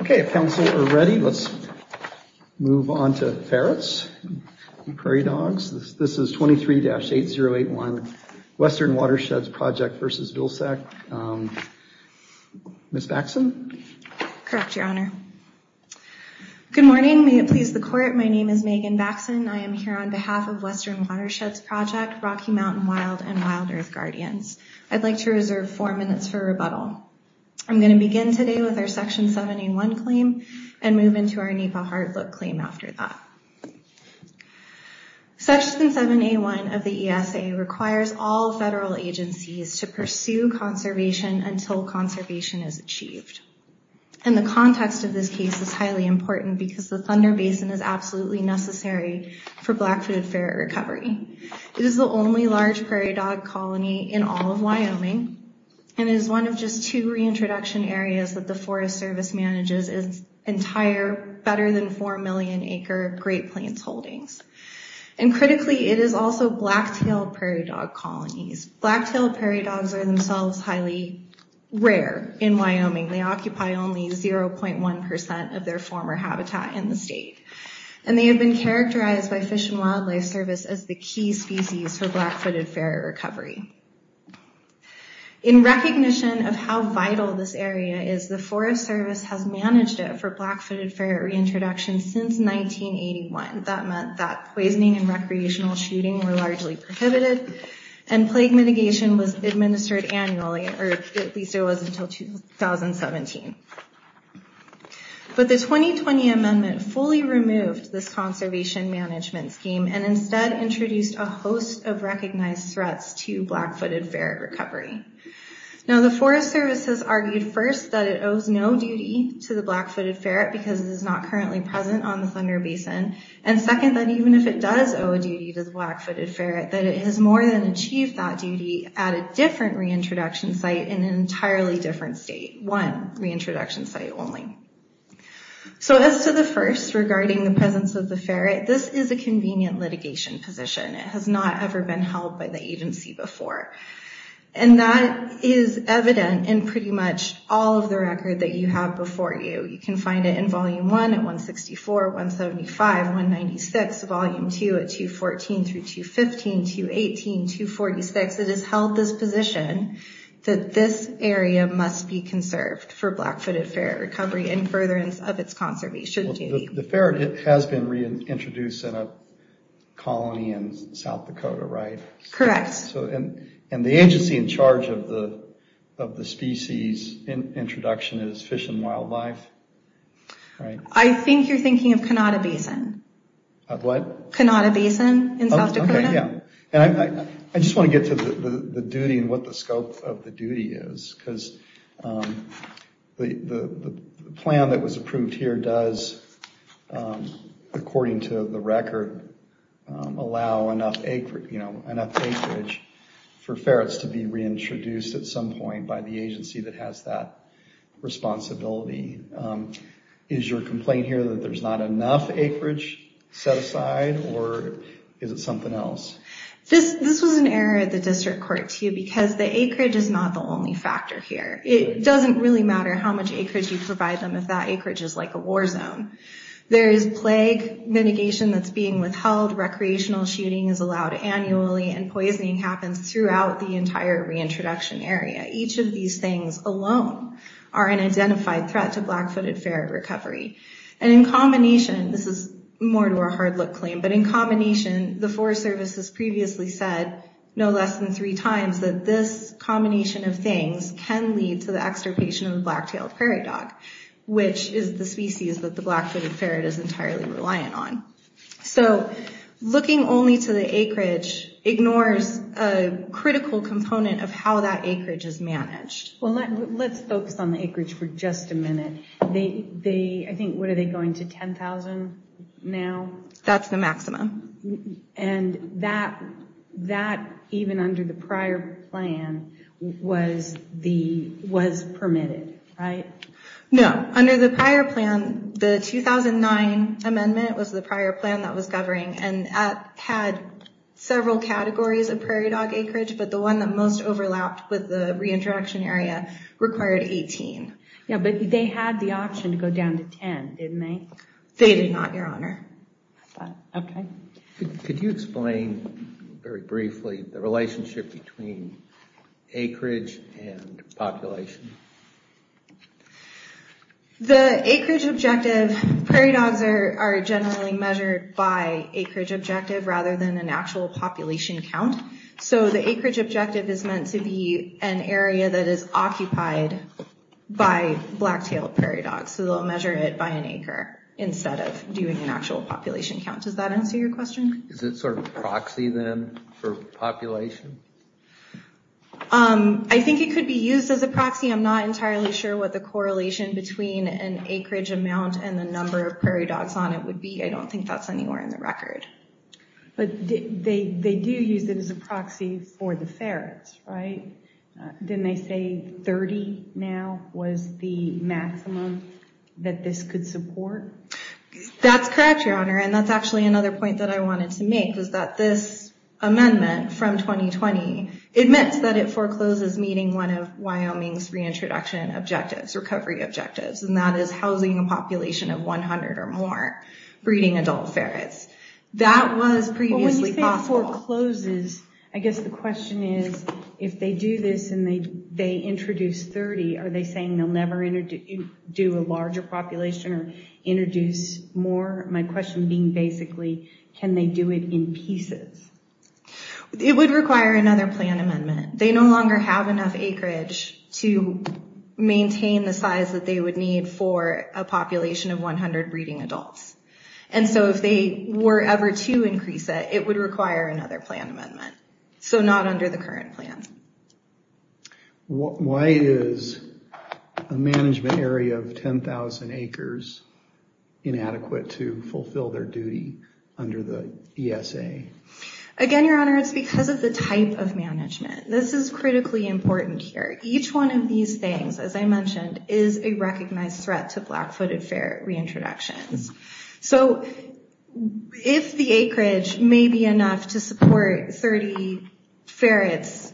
Okay, if council are ready, let's move on to ferrets and prairie dogs. This is 23-8081 Western Watersheds Project v. Vilsack. Ms. Baxson? Correct, Your Honor. Good morning. May it please the court, my name is Megan Baxson. I am here on behalf of Western Watersheds Project, Rocky Mountain Wild, and Wild Earth Guardians. I'd like to reserve four minutes for rebuttal. I'm going to begin today with our Section 7A1 claim and move into our NEPA hard look claim after that. Section 7A1 of the ESA requires all federal agencies to pursue conservation until conservation is achieved. And the context of this case is highly important because the Thunder Basin is absolutely necessary for black-footed ferret recovery. It is the only large prairie dog colony in all of Wyoming and is one of just two reintroduction areas that the Forest Service manages its entire better-than-4-million-acre Great Plains Holdings. And critically, it is also black-tailed prairie dog colonies. Black-tailed prairie dogs are themselves highly rare in Wyoming. They occupy only 0.1% of their former habitat in the state. And they have been characterized by Fish and Wildlife Service as the key species for black-footed ferret recovery. In recognition of how vital this area is, the Forest Service has managed it for black-footed ferret reintroduction since 1981. That meant that poisoning and recreational shooting were largely prohibited and plague mitigation was administered annually, or at least it was until 2017. But the 2020 amendment fully removed this conservation management scheme and instead introduced a host of recognized threats to black-footed ferret recovery. Now the Forest Service has argued first that it owes no duty to the black-footed ferret because it is not currently present on the Thunder Basin, and second, that even if it does owe a duty to the black-footed ferret, that it has more than achieved that duty at a different reintroduction site in an entirely different state. One reintroduction site only. So as to the first, regarding the presence of the ferret, this is a convenient litigation position. It has not ever been held by the agency before, and that is evident in pretty much all of the record that you have before you. You can find it in Volume 1 at 164, 175, 196, Volume 2 at 214 through 215, 218, 246. It has held this position that this area must be conserved for black-footed ferret recovery and furtherance of its conservation duty. The ferret has been reintroduced in a colony in South Dakota, right? Correct. And the agency in charge of the species introduction is Fish and Wildlife? I think you're thinking of Kanata Basin. What? Kanata Basin in South Dakota. Okay, yeah. I just want to get to the duty and what the scope of the duty is, because the plan that was approved here does, according to the record, allow enough acreage for ferrets to be reintroduced at some point by the agency that has that responsibility. Is your complaint here that there's not enough acreage set aside, or is it something else? This was an error at the district court, too, because the acreage is not the only factor here. It doesn't really matter how much acreage you provide them if that acreage is like a war zone. There is plague mitigation that's being withheld, recreational shooting is allowed annually, and poisoning happens throughout the entire reintroduction area. Each of these things alone are an identified threat to black-footed ferret recovery, and in combination, this is more to a hard-look claim, but in combination, the Forest Service has previously said no less than three times that this combination of things can lead to the extirpation of the black-tailed ferret dog, which is the species that the black-footed ferret is entirely reliant on. So looking only to the acreage ignores a critical component of how that acreage is managed. Well, let's focus on the acreage for just a minute. I think, what are they going to 10,000 now? That's the maximum. And that even under the prior plan was permitted, right? No, under the prior plan, the 2009 amendment was the prior plan that was covering and had several categories of prairie dog acreage, but the one that most overlapped with the reintroduction area required 18. Yeah, but they had the option to go down to 10, didn't they? They did not, Your Honor. Okay. Could you explain very briefly the relationship between acreage and population? The acreage objective, prairie dogs are generally measured by acreage objective rather than an actual population count, so the acreage they'll measure it by an acre instead of doing an actual population count. Does that answer your question? Is it sort of a proxy then for population? I think it could be used as a proxy. I'm not entirely sure what the correlation between an acreage amount and the number of prairie dogs on it would be. I don't think that's anywhere in the record. But they do use it as a proxy for the ferrets, right? Didn't they say 30 now was the maximum that this could support? That's correct, Your Honor, and that's actually another point that I wanted to make was that this amendment from 2020 admits that it forecloses meeting one of Wyoming's reintroduction objectives, recovery objectives, and that is housing a population of 100 or more breeding adult ferrets. That was previously forecloses, I guess the question is, if they do this and they introduce 30, are they saying they'll never do a larger population or introduce more? My question being basically, can they do it in pieces? It would require another plan amendment. They no longer have enough acreage to maintain the size that they would need for a population of 100 breeding adults, and so if they were ever to increase it, it would require another plan amendment. So not under the current plan. Why is a management area of 10,000 acres inadequate to fulfill their duty under the ESA? Again, Your Honor, it's because of the type of management. This is critically important here. Each one of these things, as I mentioned, is a recognized threat to black-footed ferret reintroductions. So if the acreage may be enough to support 30 ferrets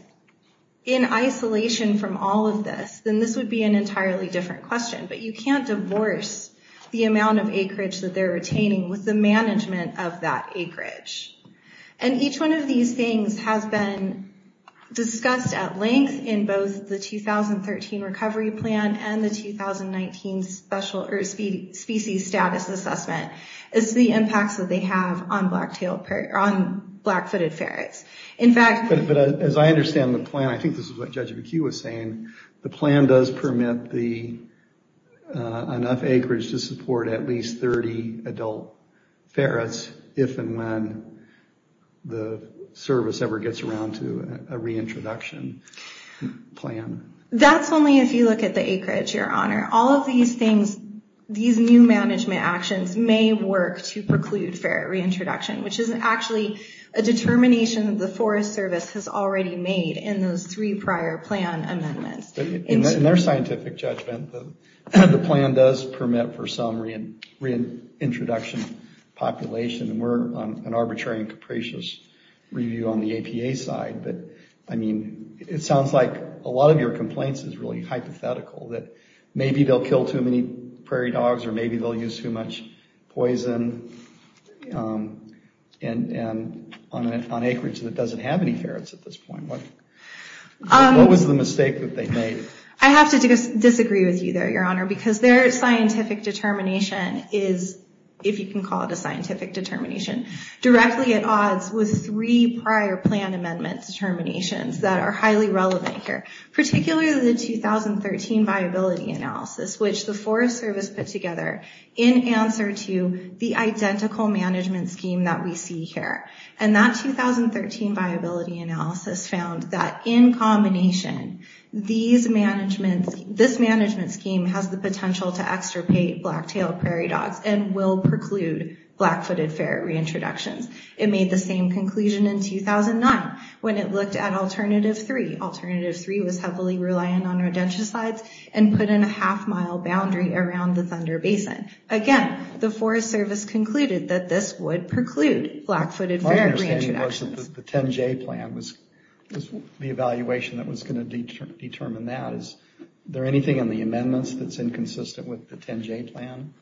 in isolation from all of this, then this would be an entirely different question, but you can't divorce the amount of acreage that they're retaining with the management of that acreage. And each one of these things has been discussed at length in both the 2013 recovery plan and the 2019 species status assessment. It's the impacts that they have on black-footed ferrets. In fact... But as I understand the plan, I think this is what Judge McHugh was saying, the plan does permit enough acreage to support at least 30 adult ferrets if and when the service ever gets around to a reintroduction plan. That's only if you look at the acreage, Your Honor. All of these things, these new management actions may work to preclude ferret reintroduction, which is actually a determination of the Forest Service has already made in those three prior plan amendments. In their scientific judgment, the plan does permit for some reintroduction population. We're on an arbitrary and capricious review on the APA side, but I mean, it sounds like a lot of your complaints is really hypothetical, that maybe they'll kill too many prairie dogs or maybe they'll use too much poison on an acreage that doesn't have any ferrets at this point. What was the mistake that they made? I have to disagree with you there, Your Honor, because their scientific determination is, if you can call it a scientific determination, directly at odds with three prior plan amendment determinations that are highly relevant here, particularly the 2013 viability analysis, which the Forest Service put together in answer to the identical management scheme that we see here. And that 2013 viability analysis found that in combination, this management scheme has the potential to extirpate black-tailed prairie dogs and will preclude black-footed ferret reintroductions. It made the same conclusion in 2009 when it looked at Alternative 3. Alternative 3 was heavily relying on rodenticides and put in a half-mile boundary around the Thunder Basin. Again, the Forest Service concluded that this would preclude black-footed ferret reintroductions. My understanding was that the 10-J plan was the evaluation that was going to determine that. Is there anything in the amendments that's inconsistent with the 10-J plan?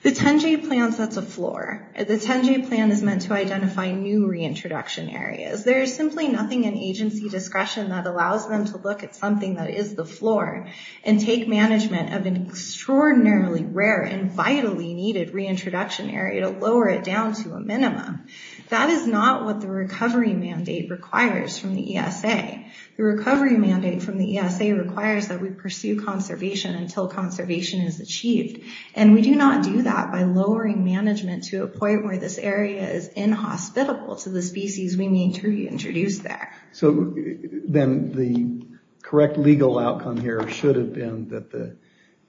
The 10-J plan sets a floor. The 10-J plan is meant to identify new reintroduction areas. There is simply nothing in agency discretion that allows them to look at something that is the floor and take management of an extraordinarily rare and vitally needed reintroduction area to lower it down to a minimum. That is not what the recovery mandate requires from the ESA. The recovery mandate from the ESA requires that we pursue conservation until conservation is achieved, and we do not do that by lowering management to a point where this area is inhospitable to the species we need to reintroduce there. So then the correct legal outcome here should have been that the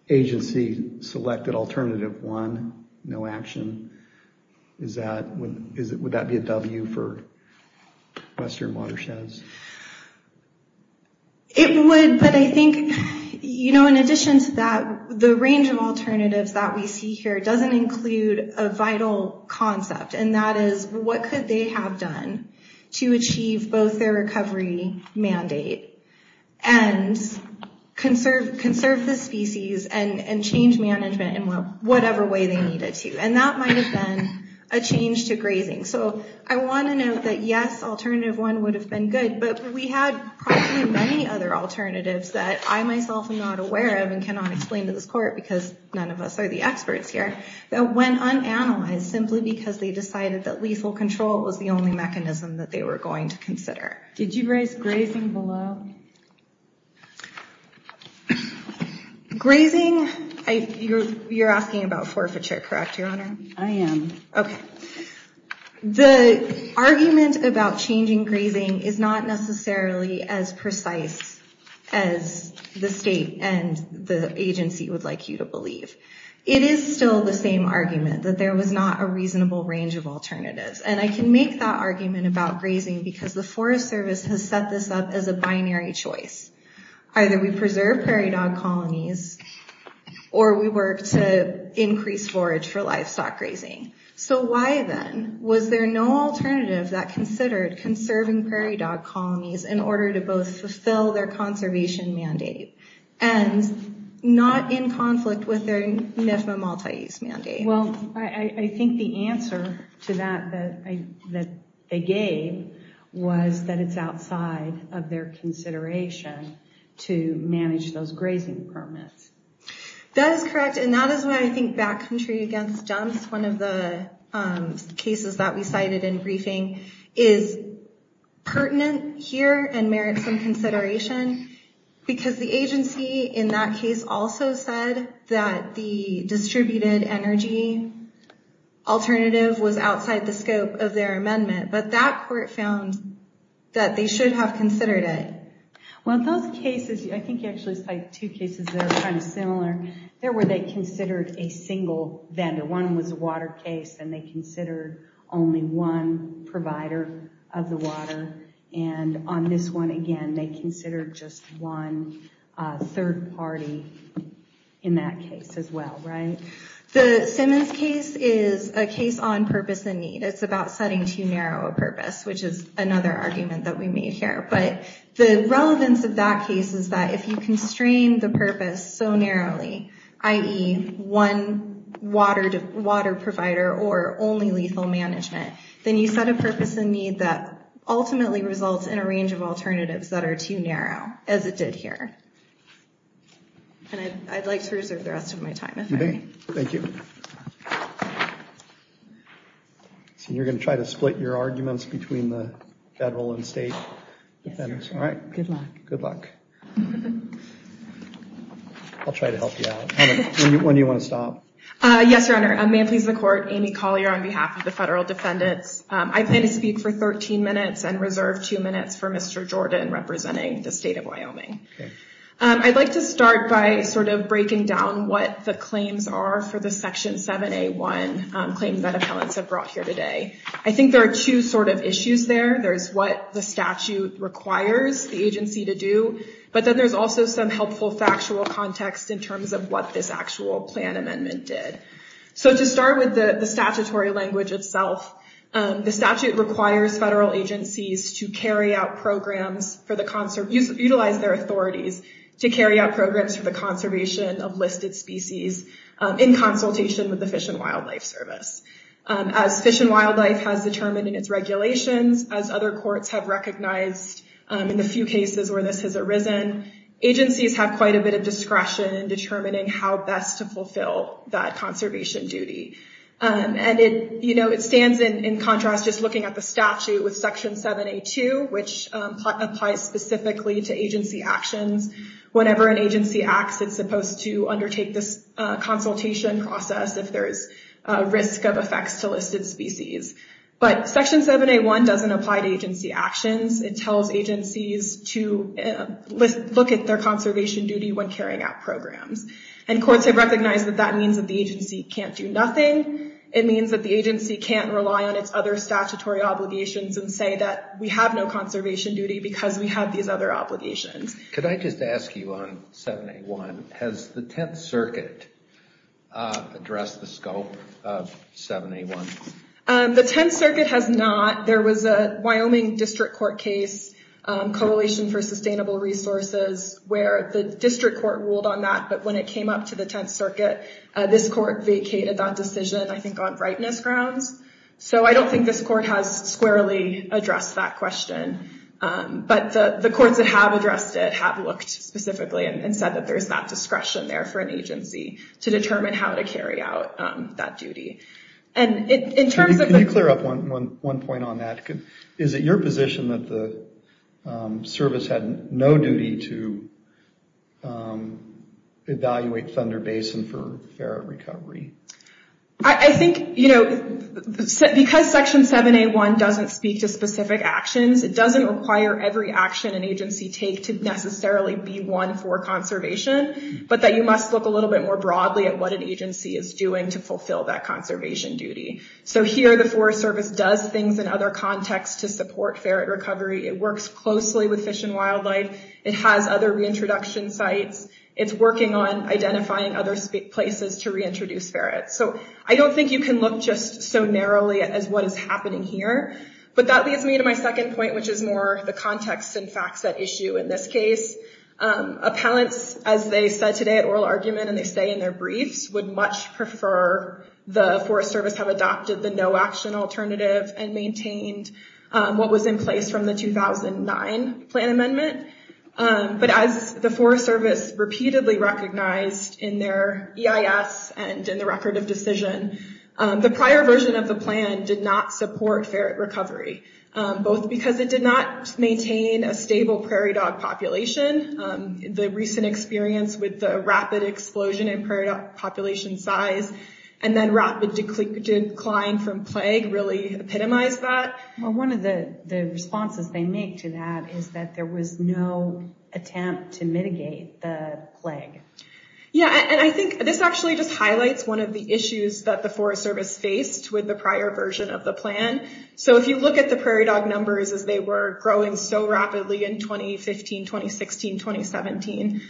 agency selected Alternative 1, no action. Would that be a W for Western Watersheds? It would, but I think, you know, in addition to that, the range of alternatives that we see here doesn't include a vital concept, and that is what could they have done to achieve both their recovery mandate and conserve the species and change management in whatever way they needed to, and that might have been a change to grazing. So I want to note that, yes, Alternative 1 would have been good, but we had probably many other alternatives that I myself am not aware of and cannot explain to this court, because none of us are the experts here, that went unanalyzed simply because they decided that lethal control was the only mechanism that they were going to consider. Did you raise grazing below? Grazing, you're asking about forfeiture, correct, Your Honor? I am. Okay. The argument about changing grazing is not necessarily as precise as the state and the agency would like you to believe. It is still the same argument that there was not a reasonable range of alternatives, and I can make that argument about grazing because the Forest Service has set this up as a binary choice. Either we preserve prairie dog colonies, or we work to increase forage for livestock grazing. So why then was there no alternative that considered conserving prairie dog colonies in order to both fulfill their conservation mandate, and not in conflict with their NIFA multi-use mandate? Well, I think the answer to that that they gave was that it's outside of their consideration to manage those grazing permits. That is correct, and that is why I think back country against dumps, one of the cases that we cited in briefing, is pertinent here and merits some consideration, because the agency in that case also said that the distributed energy alternative was outside the scope of their amendment, but that court found that they should have considered it. Well, in those cases, I think you actually cite two cases that are kind of similar, there where they considered a single vendor. One was a water case, and they considered only one provider of the water, and on this one again, they considered just one third party in that case as well, right? The Simmons case is a case on purpose and need. It's about setting too narrow a purpose, which is another argument that we made here, but the relevance of that case is that if you constrain the purpose so narrowly, i.e. one water provider or only lethal management, then you set a purpose and need that ultimately results in a range of alternatives that are too narrow, as it did here, and I'd like to reserve the rest of my time. Thank you. So you're gonna try to split your arguments between the federal and state defendants, right? Good luck. I'll try to help you out. When do you want to stop? Yes, Your Honor. May it please the Court, Amy Collier on behalf of the federal defendants. I plan to speak for 13 minutes and reserve two minutes for Mr. Jordan representing the state of Wyoming. I'd like to start by sort of breaking down what the claims are for the Section 7A1 claims that brought here today. I think there are two sort of issues there. There's what the statute requires the agency to do, but then there's also some helpful factual context in terms of what this actual plan amendment did. So to start with the statutory language itself, the statute requires federal agencies to carry out programs for the...utilize their authorities to carry out programs for the conservation of listed species in consultation with the Fish and Wildlife Service. As Fish and Wildlife has determined in its regulations, as other courts have recognized in the few cases where this has arisen, agencies have quite a bit of discretion in determining how best to fulfill that conservation duty. And it, you know, it stands in contrast just looking at the statute with Section 7A2, which applies specifically to agency actions. Whenever an agency acts, it's supposed to undertake this consultation process if there's a risk of effects to listed species. But Section 7A1 doesn't apply to agency actions. It tells agencies to look at their conservation duty when carrying out programs. And courts have recognized that that means that the agency can't do nothing. It means that the agency can't rely on its other statutory obligations and say that we have no conservation duty because we have these other obligations. Could I just ask you on 7A1, has the Tenth Circuit looked at the scope of 7A1? The Tenth Circuit has not. There was a Wyoming district court case, Coalition for Sustainable Resources, where the district court ruled on that. But when it came up to the Tenth Circuit, this court vacated that decision, I think on rightness grounds. So I don't think this court has squarely addressed that question. But the courts that have addressed it have looked specifically and said that there's that discretion there for an agency to determine how to carry out that duty. And in terms of... Can you clear up one point on that? Is it your position that the service had no duty to evaluate Thunder Basin for ferret recovery? I think, you know, because Section 7A1 doesn't speak to specific actions, it doesn't require every action an agency take to necessarily be one for conservation, but that you must look a little bit more broadly at what an agency is doing to fulfill that conservation duty. So here the Forest Service does things in other contexts to support ferret recovery. It works closely with Fish and Wildlife. It has other reintroduction sites. It's working on identifying other places to reintroduce ferrets. So I don't think you can look just so narrowly as what is happening here. But that leads me to my second point, which is more the context and facts that issue in this case. Appellants, as they said today at oral argument and they say in their briefs, would much prefer the Forest Service have adopted the no-action alternative and maintained what was in place from the 2009 plan amendment. But as the Forest Service repeatedly recognized in their EIS and in the record of decision, the prior version of the plan did not support ferret recovery. Both because it did not maintain a stable prairie dog population. The recent experience with the rapid explosion in prairie dog population size and then rapid decline from plague really epitomized that. Well one of the responses they make to that is that there was no attempt to mitigate the plague. Yeah and I think this actually just highlights one of the issues that the Forest Service faced with the prior version of the plan. So if you look at the prairie dog numbers as they were growing so rapidly in 2015, 2016, 2017,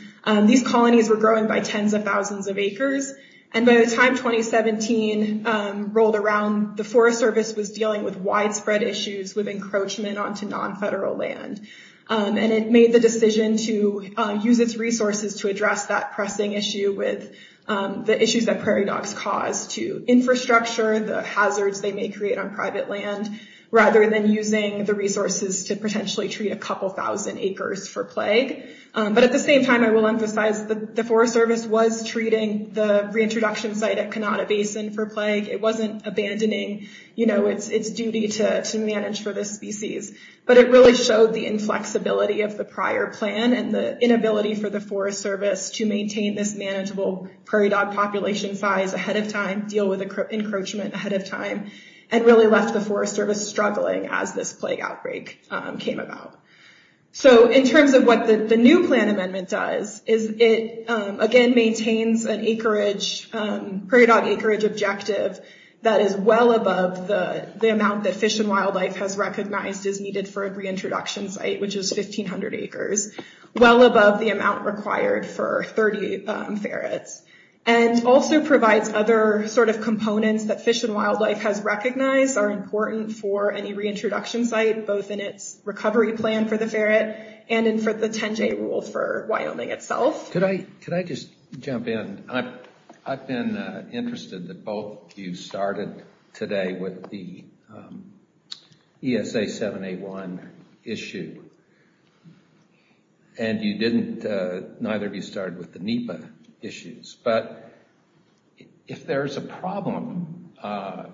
these colonies were growing by tens of thousands of acres. And by the time 2017 rolled around, the Forest Service was dealing with widespread issues with encroachment onto non-federal land. And it made the decision to use its resources to address that pressing issue with the issues that prairie dogs cause to infrastructure, the hazards they may create on private land, rather than using the resources to potentially treat a couple thousand acres for plague. But at the same time, I will emphasize that the Forest Service was treating the reintroduction site at Kanata Basin for plague. It wasn't abandoning, you know, its duty to manage for this species. But it really showed the inflexibility of the prior plan and the inability for the Forest Service to maintain this manageable prairie dog population size ahead of time, deal with encroachment ahead of time, and really left the Forest Service struggling as this plague outbreak came about. So in terms of what the new plan amendment does, is it again maintains an acreage, prairie dog acreage objective that is well above the amount that Fish and Wildlife has recognized is needed for a reintroduction site, which is 1,500 acres, well above the amount required for 30 ferrets. And also provides other sort of components that Fish and Wildlife has recognized are important for any reintroduction site, both in its recovery plan for the ferret and in for the 10-J rule for Wyoming itself. Can I just jump in? I've been interested that both of you started today with the ESA 781 issue, and you didn't, neither of you started with the NEPA issues. But if there's a problem on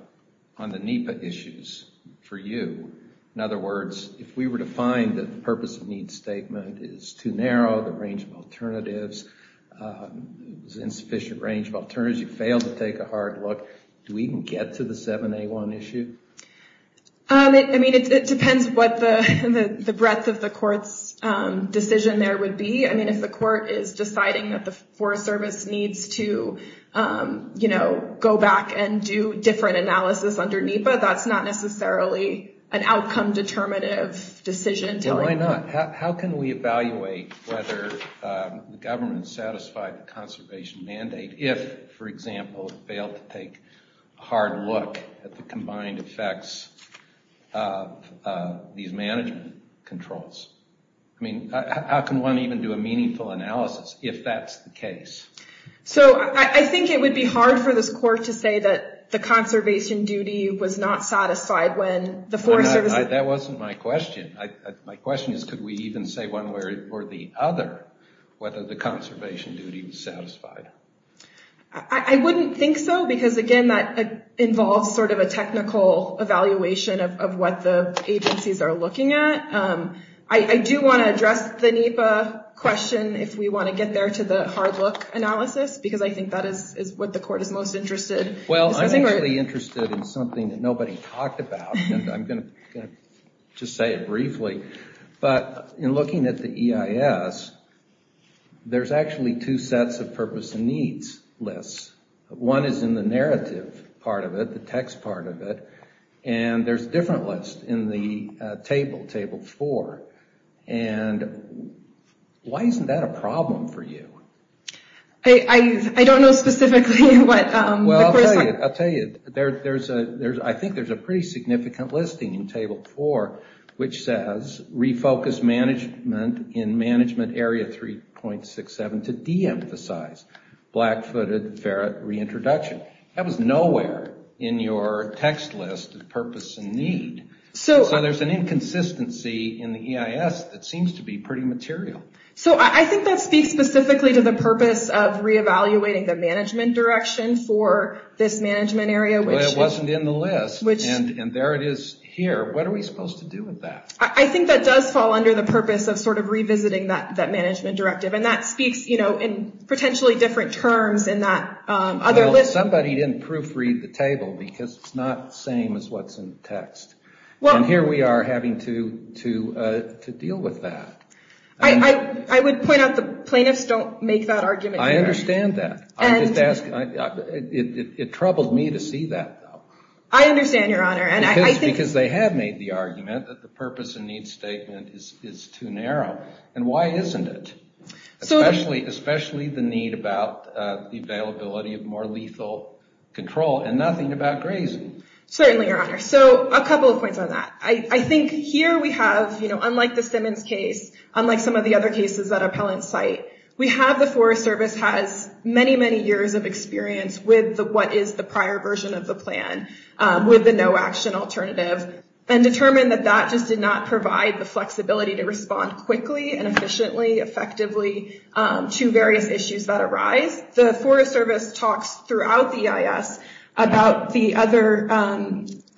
the NEPA issues for you, in other words, if we were to find that the purpose of needs statement is too narrow, the range of alternatives, insufficient range of alternatives, you fail to take a hard look, do we even get to the 781 issue? I mean, it depends what the breadth of the court's decision there would be. I mean, if the court is deciding that the Forest Service needs to, you know, go back and do different analysis under NEPA, that's not necessarily an outcome determinative decision. Well, why not? How can we evaluate whether the government satisfied the conservation mandate if, for example, it to take a hard look at the combined effects of these management controls? I mean, how can one even do a meaningful analysis if that's the case? So, I think it would be hard for this court to say that the conservation duty was not satisfied when the Forest Service... That wasn't my question. My question is, could we even say one way or the other whether the conservation duty was satisfied? I wouldn't think so because, again, that involves sort of a technical evaluation of what the agencies are looking at. I do want to address the NEPA question if we want to get there to the hard look analysis because I think that is what the court is most interested in. Well, I'm really interested in something that nobody talked about, and I'm going to just say it briefly, but in looking at the EIS, there's actually two sets of purpose and needs lists. One is in the narrative part of it, the text part of it, and there's a different list in the table, table 4, and why isn't that a problem for you? I don't know specifically what... Well, I'll tell you, I think there's a pretty significant listing in table 4 which says refocus management in management area 3.67 to de-emphasize black-footed ferret reintroduction. That was nowhere in your text list of purpose and need. So there's an inconsistency in the EIS that seems to be pretty material. So I think that speaks specifically to the purpose of re-evaluating the management direction for this management area. But it wasn't in the list, and there it is here. What are we supposed to do with that? I think that does fall under the purpose of sort of revisiting that management directive, and that speaks, you know, in potentially different terms in that other list. Well, somebody didn't proofread the table because it's not the same as what's in the text, and here we are having to deal with that. I would point out the plaintiffs don't make that argument. I understand that. It troubled me to see that. I understand, Your Honor. Because they have made the argument that the purpose and need statement is too narrow, and why isn't it? Especially the need about the availability of more lethal control and nothing about grazing. Certainly, Your Honor. So a couple of points on that. I think here we have, you know, unlike the Simmons case, unlike some of the other cases that appellants cite, we have the Forest Service has many, many years of experience with what is the prior version of the plan with the no-action alternative, and determined that that just did not provide the flexibility to respond quickly and efficiently, effectively, to various issues that arise. The Forest Service talks throughout the EIS about the other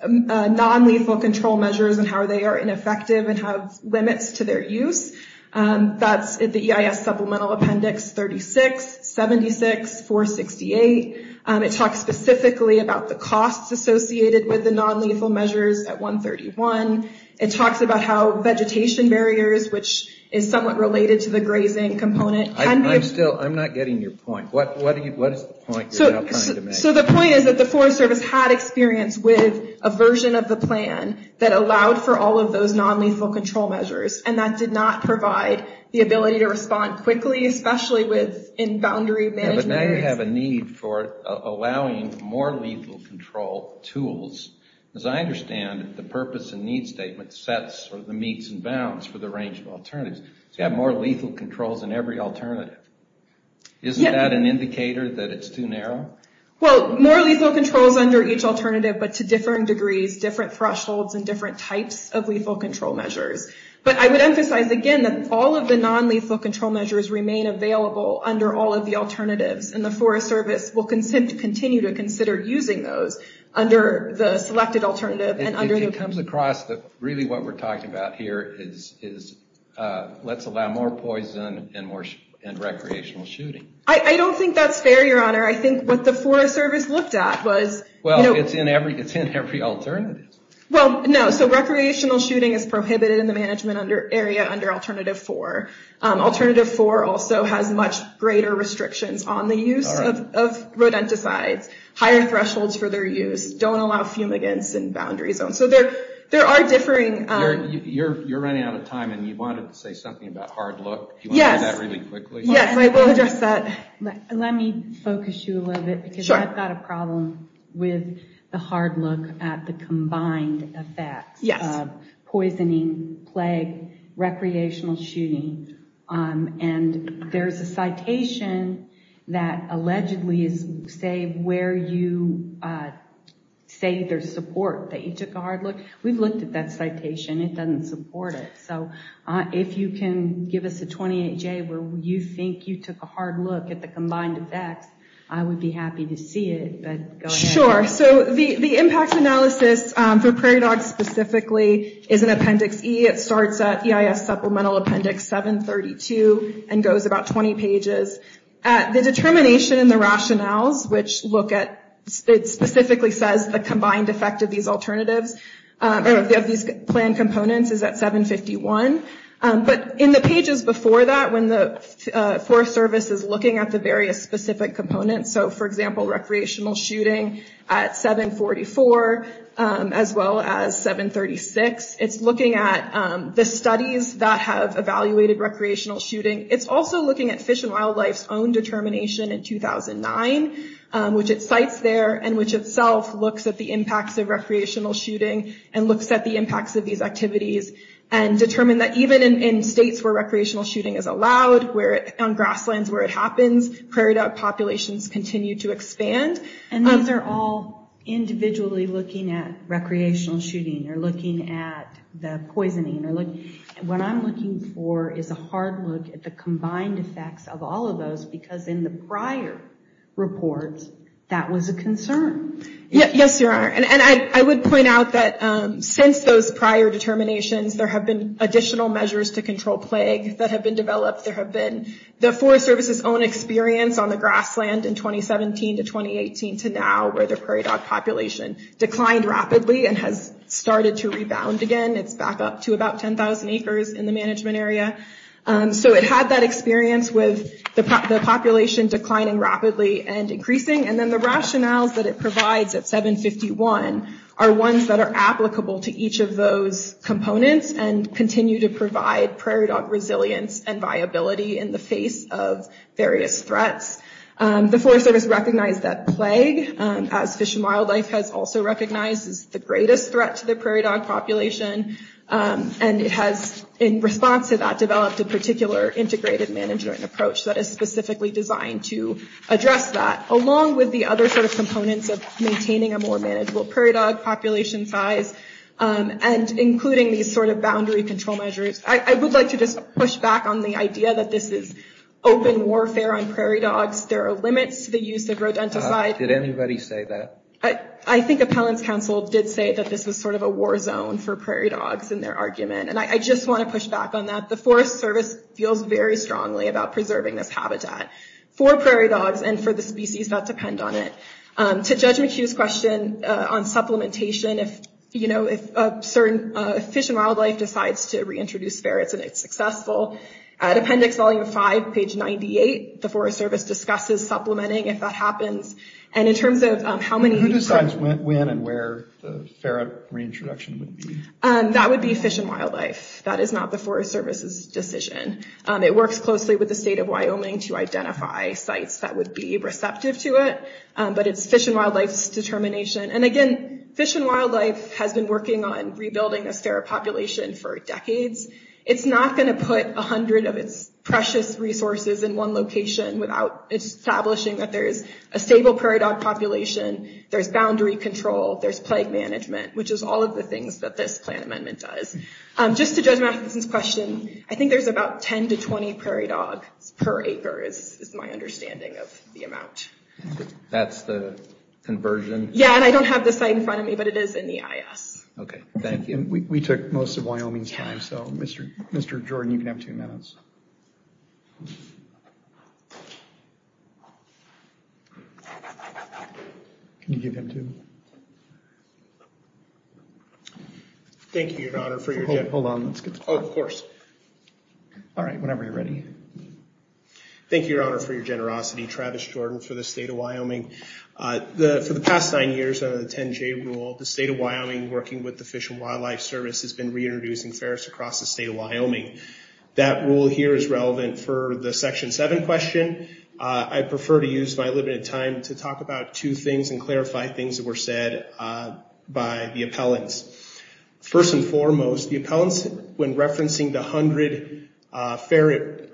non-lethal control measures and how they are ineffective and have limits to their use. That's the EIS supplemental appendix 36, 76, 468. It talks specifically about the costs associated with the non-lethal measures at 131. It talks about how vegetation barriers, which is somewhat related to the grazing component. I'm still, I'm not getting your point. What is the point you're trying to make? So the point is that the Forest Service had experience with a version of the plan that allowed for all of those non-lethal control measures, and that did not provide the ability to respond quickly, especially with in allowing more lethal control tools. As I understand it, the purpose and need statement sets the meets and bounds for the range of alternatives. You have more lethal controls in every alternative. Isn't that an indicator that it's too narrow? Well, more lethal controls under each alternative, but to differing degrees, different thresholds, and different types of lethal control measures. But I would emphasize again that all of the non-lethal control measures remain available under all of the alternatives, and the Forest Service will continue to consider using those under the selected alternative. It comes across that really what we're talking about here is, let's allow more poison and recreational shooting. I don't think that's fair, Your Honor. I think what the Forest Service looked at was... Well, it's in every alternative. Well, no. So recreational shooting is prohibited in the management area under Alternative 4. Alternative 4 also has much greater restrictions on the use of rodenticides, higher thresholds for their use, don't allow fumigants in boundary zones. So there there are differing... You're running out of time, and you wanted to say something about hard look. Yes, I will address that. Let me focus you a little bit, because I've got a problem with the hard look at the combined effects of poisoning, plague, recreational shooting, and there's a citation that allegedly is, say, where you say there's support that you took a hard look. We've looked at that citation. It doesn't support it. So if you can give us a 28-J where you think you took a hard look at the combined effects, I would be happy to see it. Sure. So the impact analysis for prairie dogs specifically is an Appendix E. It starts at EIS Supplemental Appendix 732 and goes about 20 pages. The determination in the rationales, which look at... it specifically says the combined effect of these alternatives, of these planned components, is at 751. But in the pages before that, when the Forest Service is looking at the various specific components, so for example, recreational shooting at 744, as well as 736, it's looking at the studies that have evaluated recreational shooting. It's also looking at Fish and Wildlife's own determination in 2009, which it cites there, and which itself looks at the impacts of recreational shooting, and looks at the impacts of these activities, and determine that even in states where recreational shooting is allowed, where on grasslands where it happens, prairie dog populations continue to expand. And these are all individually looking at recreational shooting, or looking at the poisoning, or looking... what I'm looking for is a hard look at the combined effects of all of those, because in the prior reports, that was a concern. Yes, your Honor, and I would point out that since those prior determinations, there have been additional measures to control plague that have been developed. There have been the Forest Service's own experience on the grassland in 2017 to 2018 to now, where the prairie dog population declined rapidly and has started to rebound again. It's back up to about 10,000 acres in the management area. So it had that experience with the population declining rapidly and increasing, and then the rationales that it provides at 751 are ones that are applicable to each of those components, and continue to provide prairie dog resilience and viability in the face of various threats. The Forest Service recognized that plague, as Fish and Wildlife has also recognized, is the greatest threat to the prairie dog population, and it has, in response to that, developed a particular integrated management approach that is specifically designed to address that, along with the other sort of components of maintaining a more manageable prairie dog population size, and including these sort of I want to push back on the idea that this is open warfare on prairie dogs. There are limits to the use of rodenticide. Did anybody say that? I think Appellants Council did say that this is sort of a war zone for prairie dogs in their argument, and I just want to push back on that. The Forest Service feels very strongly about preserving this habitat for prairie dogs and for the species that depend on it. To Judge McHugh's question on supplementation, if Fish and Wildlife decides to reintroduce ferrets and it's successful, at Appendix Volume 5, page 98, the Forest Service discusses supplementing if that happens, and in terms of how many... Who decides when and where the ferret reintroduction would be? That would be Fish and Wildlife. That is not the Forest Service's decision. It works closely with the state of Wyoming to identify sites that would be receptive to it, but it's Fish and Wildlife's determination, and again, Fish and Wildlife has been working on rebuilding this ferret population for decades. It's not going to put a hundred of its precious resources in one location without establishing that there's a stable prairie dog population, there's boundary control, there's plague management, which is all of the things that this plan amendment does. Just to Judge Matheson's question, I think there's about 10 to 20 prairie dogs per acre is my understanding of the amount. That's the conversion? Yeah, and I don't have the site in front of me, but it is in the IS. Okay, thank you. We took most of Wyoming's time, so Mr. Jordan, you can have two minutes. Can you give him two? Thank you, Your Honor, for your... Hold on, let's get... Of course. All right, whenever you're ready. Thank you, Your Honor, for your generosity. Travis Jordan for the state of Wyoming. For the past nine years, under the 10-J rule, the state of Wyoming, working with the Fish and Wildlife Service, has been reintroducing ferrets across the state of Wyoming. That rule here is relevant for the Section 7 question. I prefer to use my limited time to talk about two things and clarify things that were said by the appellants. First and foremost, the appellants, when referencing the 100 ferret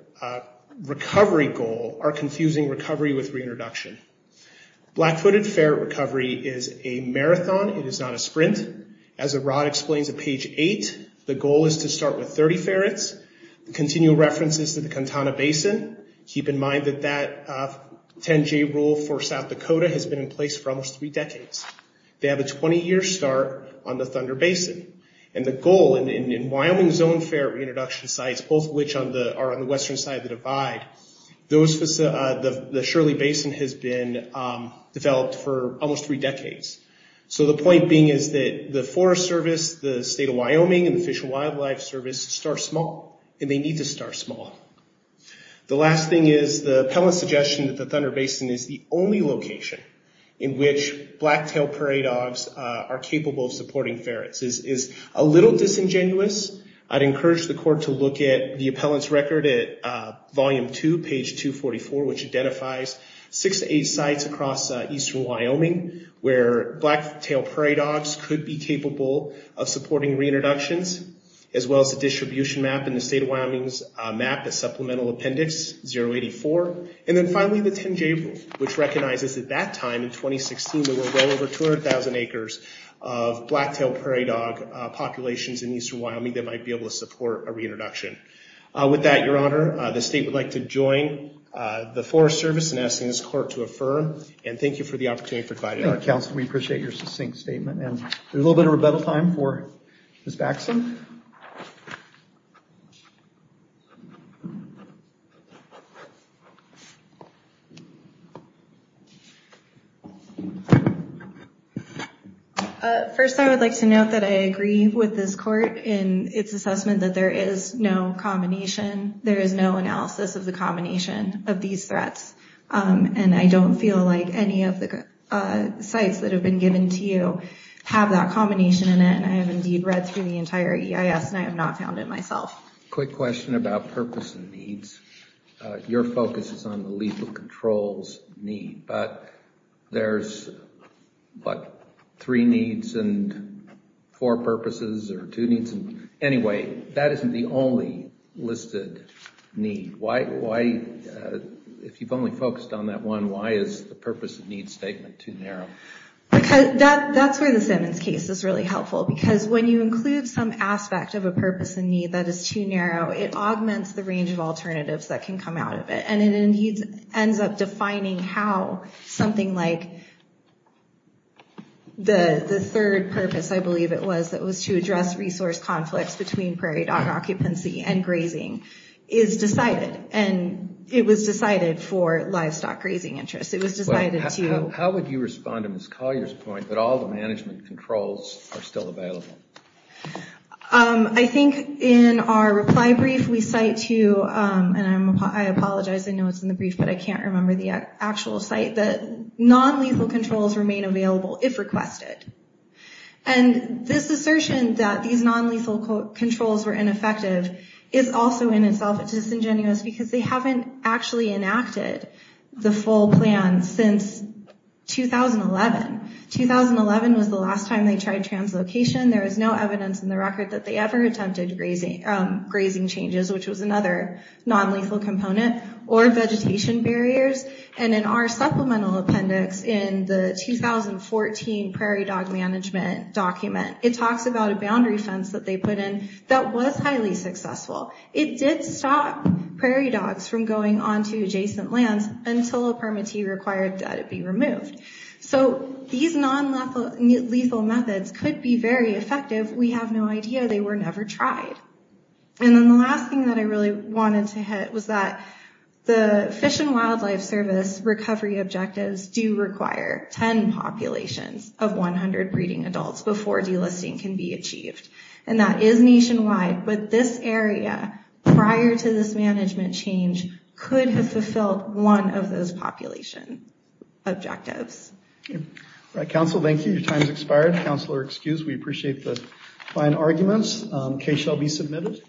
recovery goal, are confusing recovery with reintroduction. Black-footed ferret recovery is a marathon. It is not a sprint. As Arad explains at page 8, the goal is to start with 30 ferrets. The continual reference is to the Kuntana Basin. Keep in mind that that 10-J rule for South Dakota has been in place for almost three decades. They have a 20-year start on the Thunder Basin. The goal in Wyoming zone ferret reintroduction sites, both of which are on the western side of the divide, the Shirley Basin has been developed for almost three decades. The point being is that the Forest Service, the state of Wyoming, and the Fish and Wildlife Service start small, and they need to start small. The last thing is the appellant suggestion that the Thunder Basin is the only location in which black-tailed prairie dogs are capable of supporting ferrets is a little disingenuous. I'd encourage the court to look at the appellant's record at volume 2, page 244, which identifies six to eight sites across eastern Wyoming where black-tailed prairie dogs could be capable of supporting reintroductions, as well as the distribution map in the state of Wyoming's map, the supplemental 2016, we will go over 200,000 acres of black-tailed prairie dog populations in eastern Wyoming that might be able to support a reintroduction. With that, Your Honor, the state would like to join the Forest Service in asking this court to affirm, and thank you for the opportunity to provide it. Counsel, we appreciate your succinct statement, and a little bit of rebuttal time for Ms. Baxton. First, I would like to note that I agree with this court in its assessment that there is no combination. There is no analysis of the combination of these threats, and I don't feel like any of the sites that have been given to you have that combination in it. I have indeed read through the entire EIS, and I have not found it myself. Quick question about purpose and needs. Your focus is on the purpose of control's need, but there's, what, three needs and four purposes, or two needs, and anyway, that isn't the only listed need. Why, if you've only focused on that one, why is the purpose of need statement too narrow? That's where the Simmons case is really helpful, because when you include some aspect of a purpose and need that is too narrow, it augments the range of alternatives that can come out of it, and it indeed ends up defining how something like the third purpose, I believe it was, that was to address resource conflicts between prairie dog occupancy and grazing is decided, and it was decided for livestock grazing interests. It was decided to... How would you respond to Ms. Collier's point that all the management controls are still available? I think in our reply brief, we cite to, and I apologize, I know it's in the brief, but I can't remember the actual site, that non-lethal controls remain available if requested, and this assertion that these non-lethal controls were ineffective is also in itself disingenuous, because they haven't actually enacted the full plan since 2011. 2011 was the last time they tried translocation. There is no evidence in the record that they ever attempted grazing changes, which was another non-lethal component, or vegetation barriers, and in our supplemental appendix in the 2014 Prairie Dog Management document, it talks about a boundary fence that they put in that was highly successful. It did stop prairie dogs from going on to adjacent lands until a permittee required that it be removed. So these non-lethal methods could be very effective. We have no idea. They were never tried. And then the last thing that I really wanted to hit was that the Fish and Wildlife Service recovery objectives do require 10 populations of 100 breeding adults before delisting can be achieved, and that is nationwide, but this area, prior to this management change, could have fulfilled one of those population objectives. All right, Council, thank you. Your time has expired. Councilor excused. We appreciate the fine arguments. The case shall be submitted.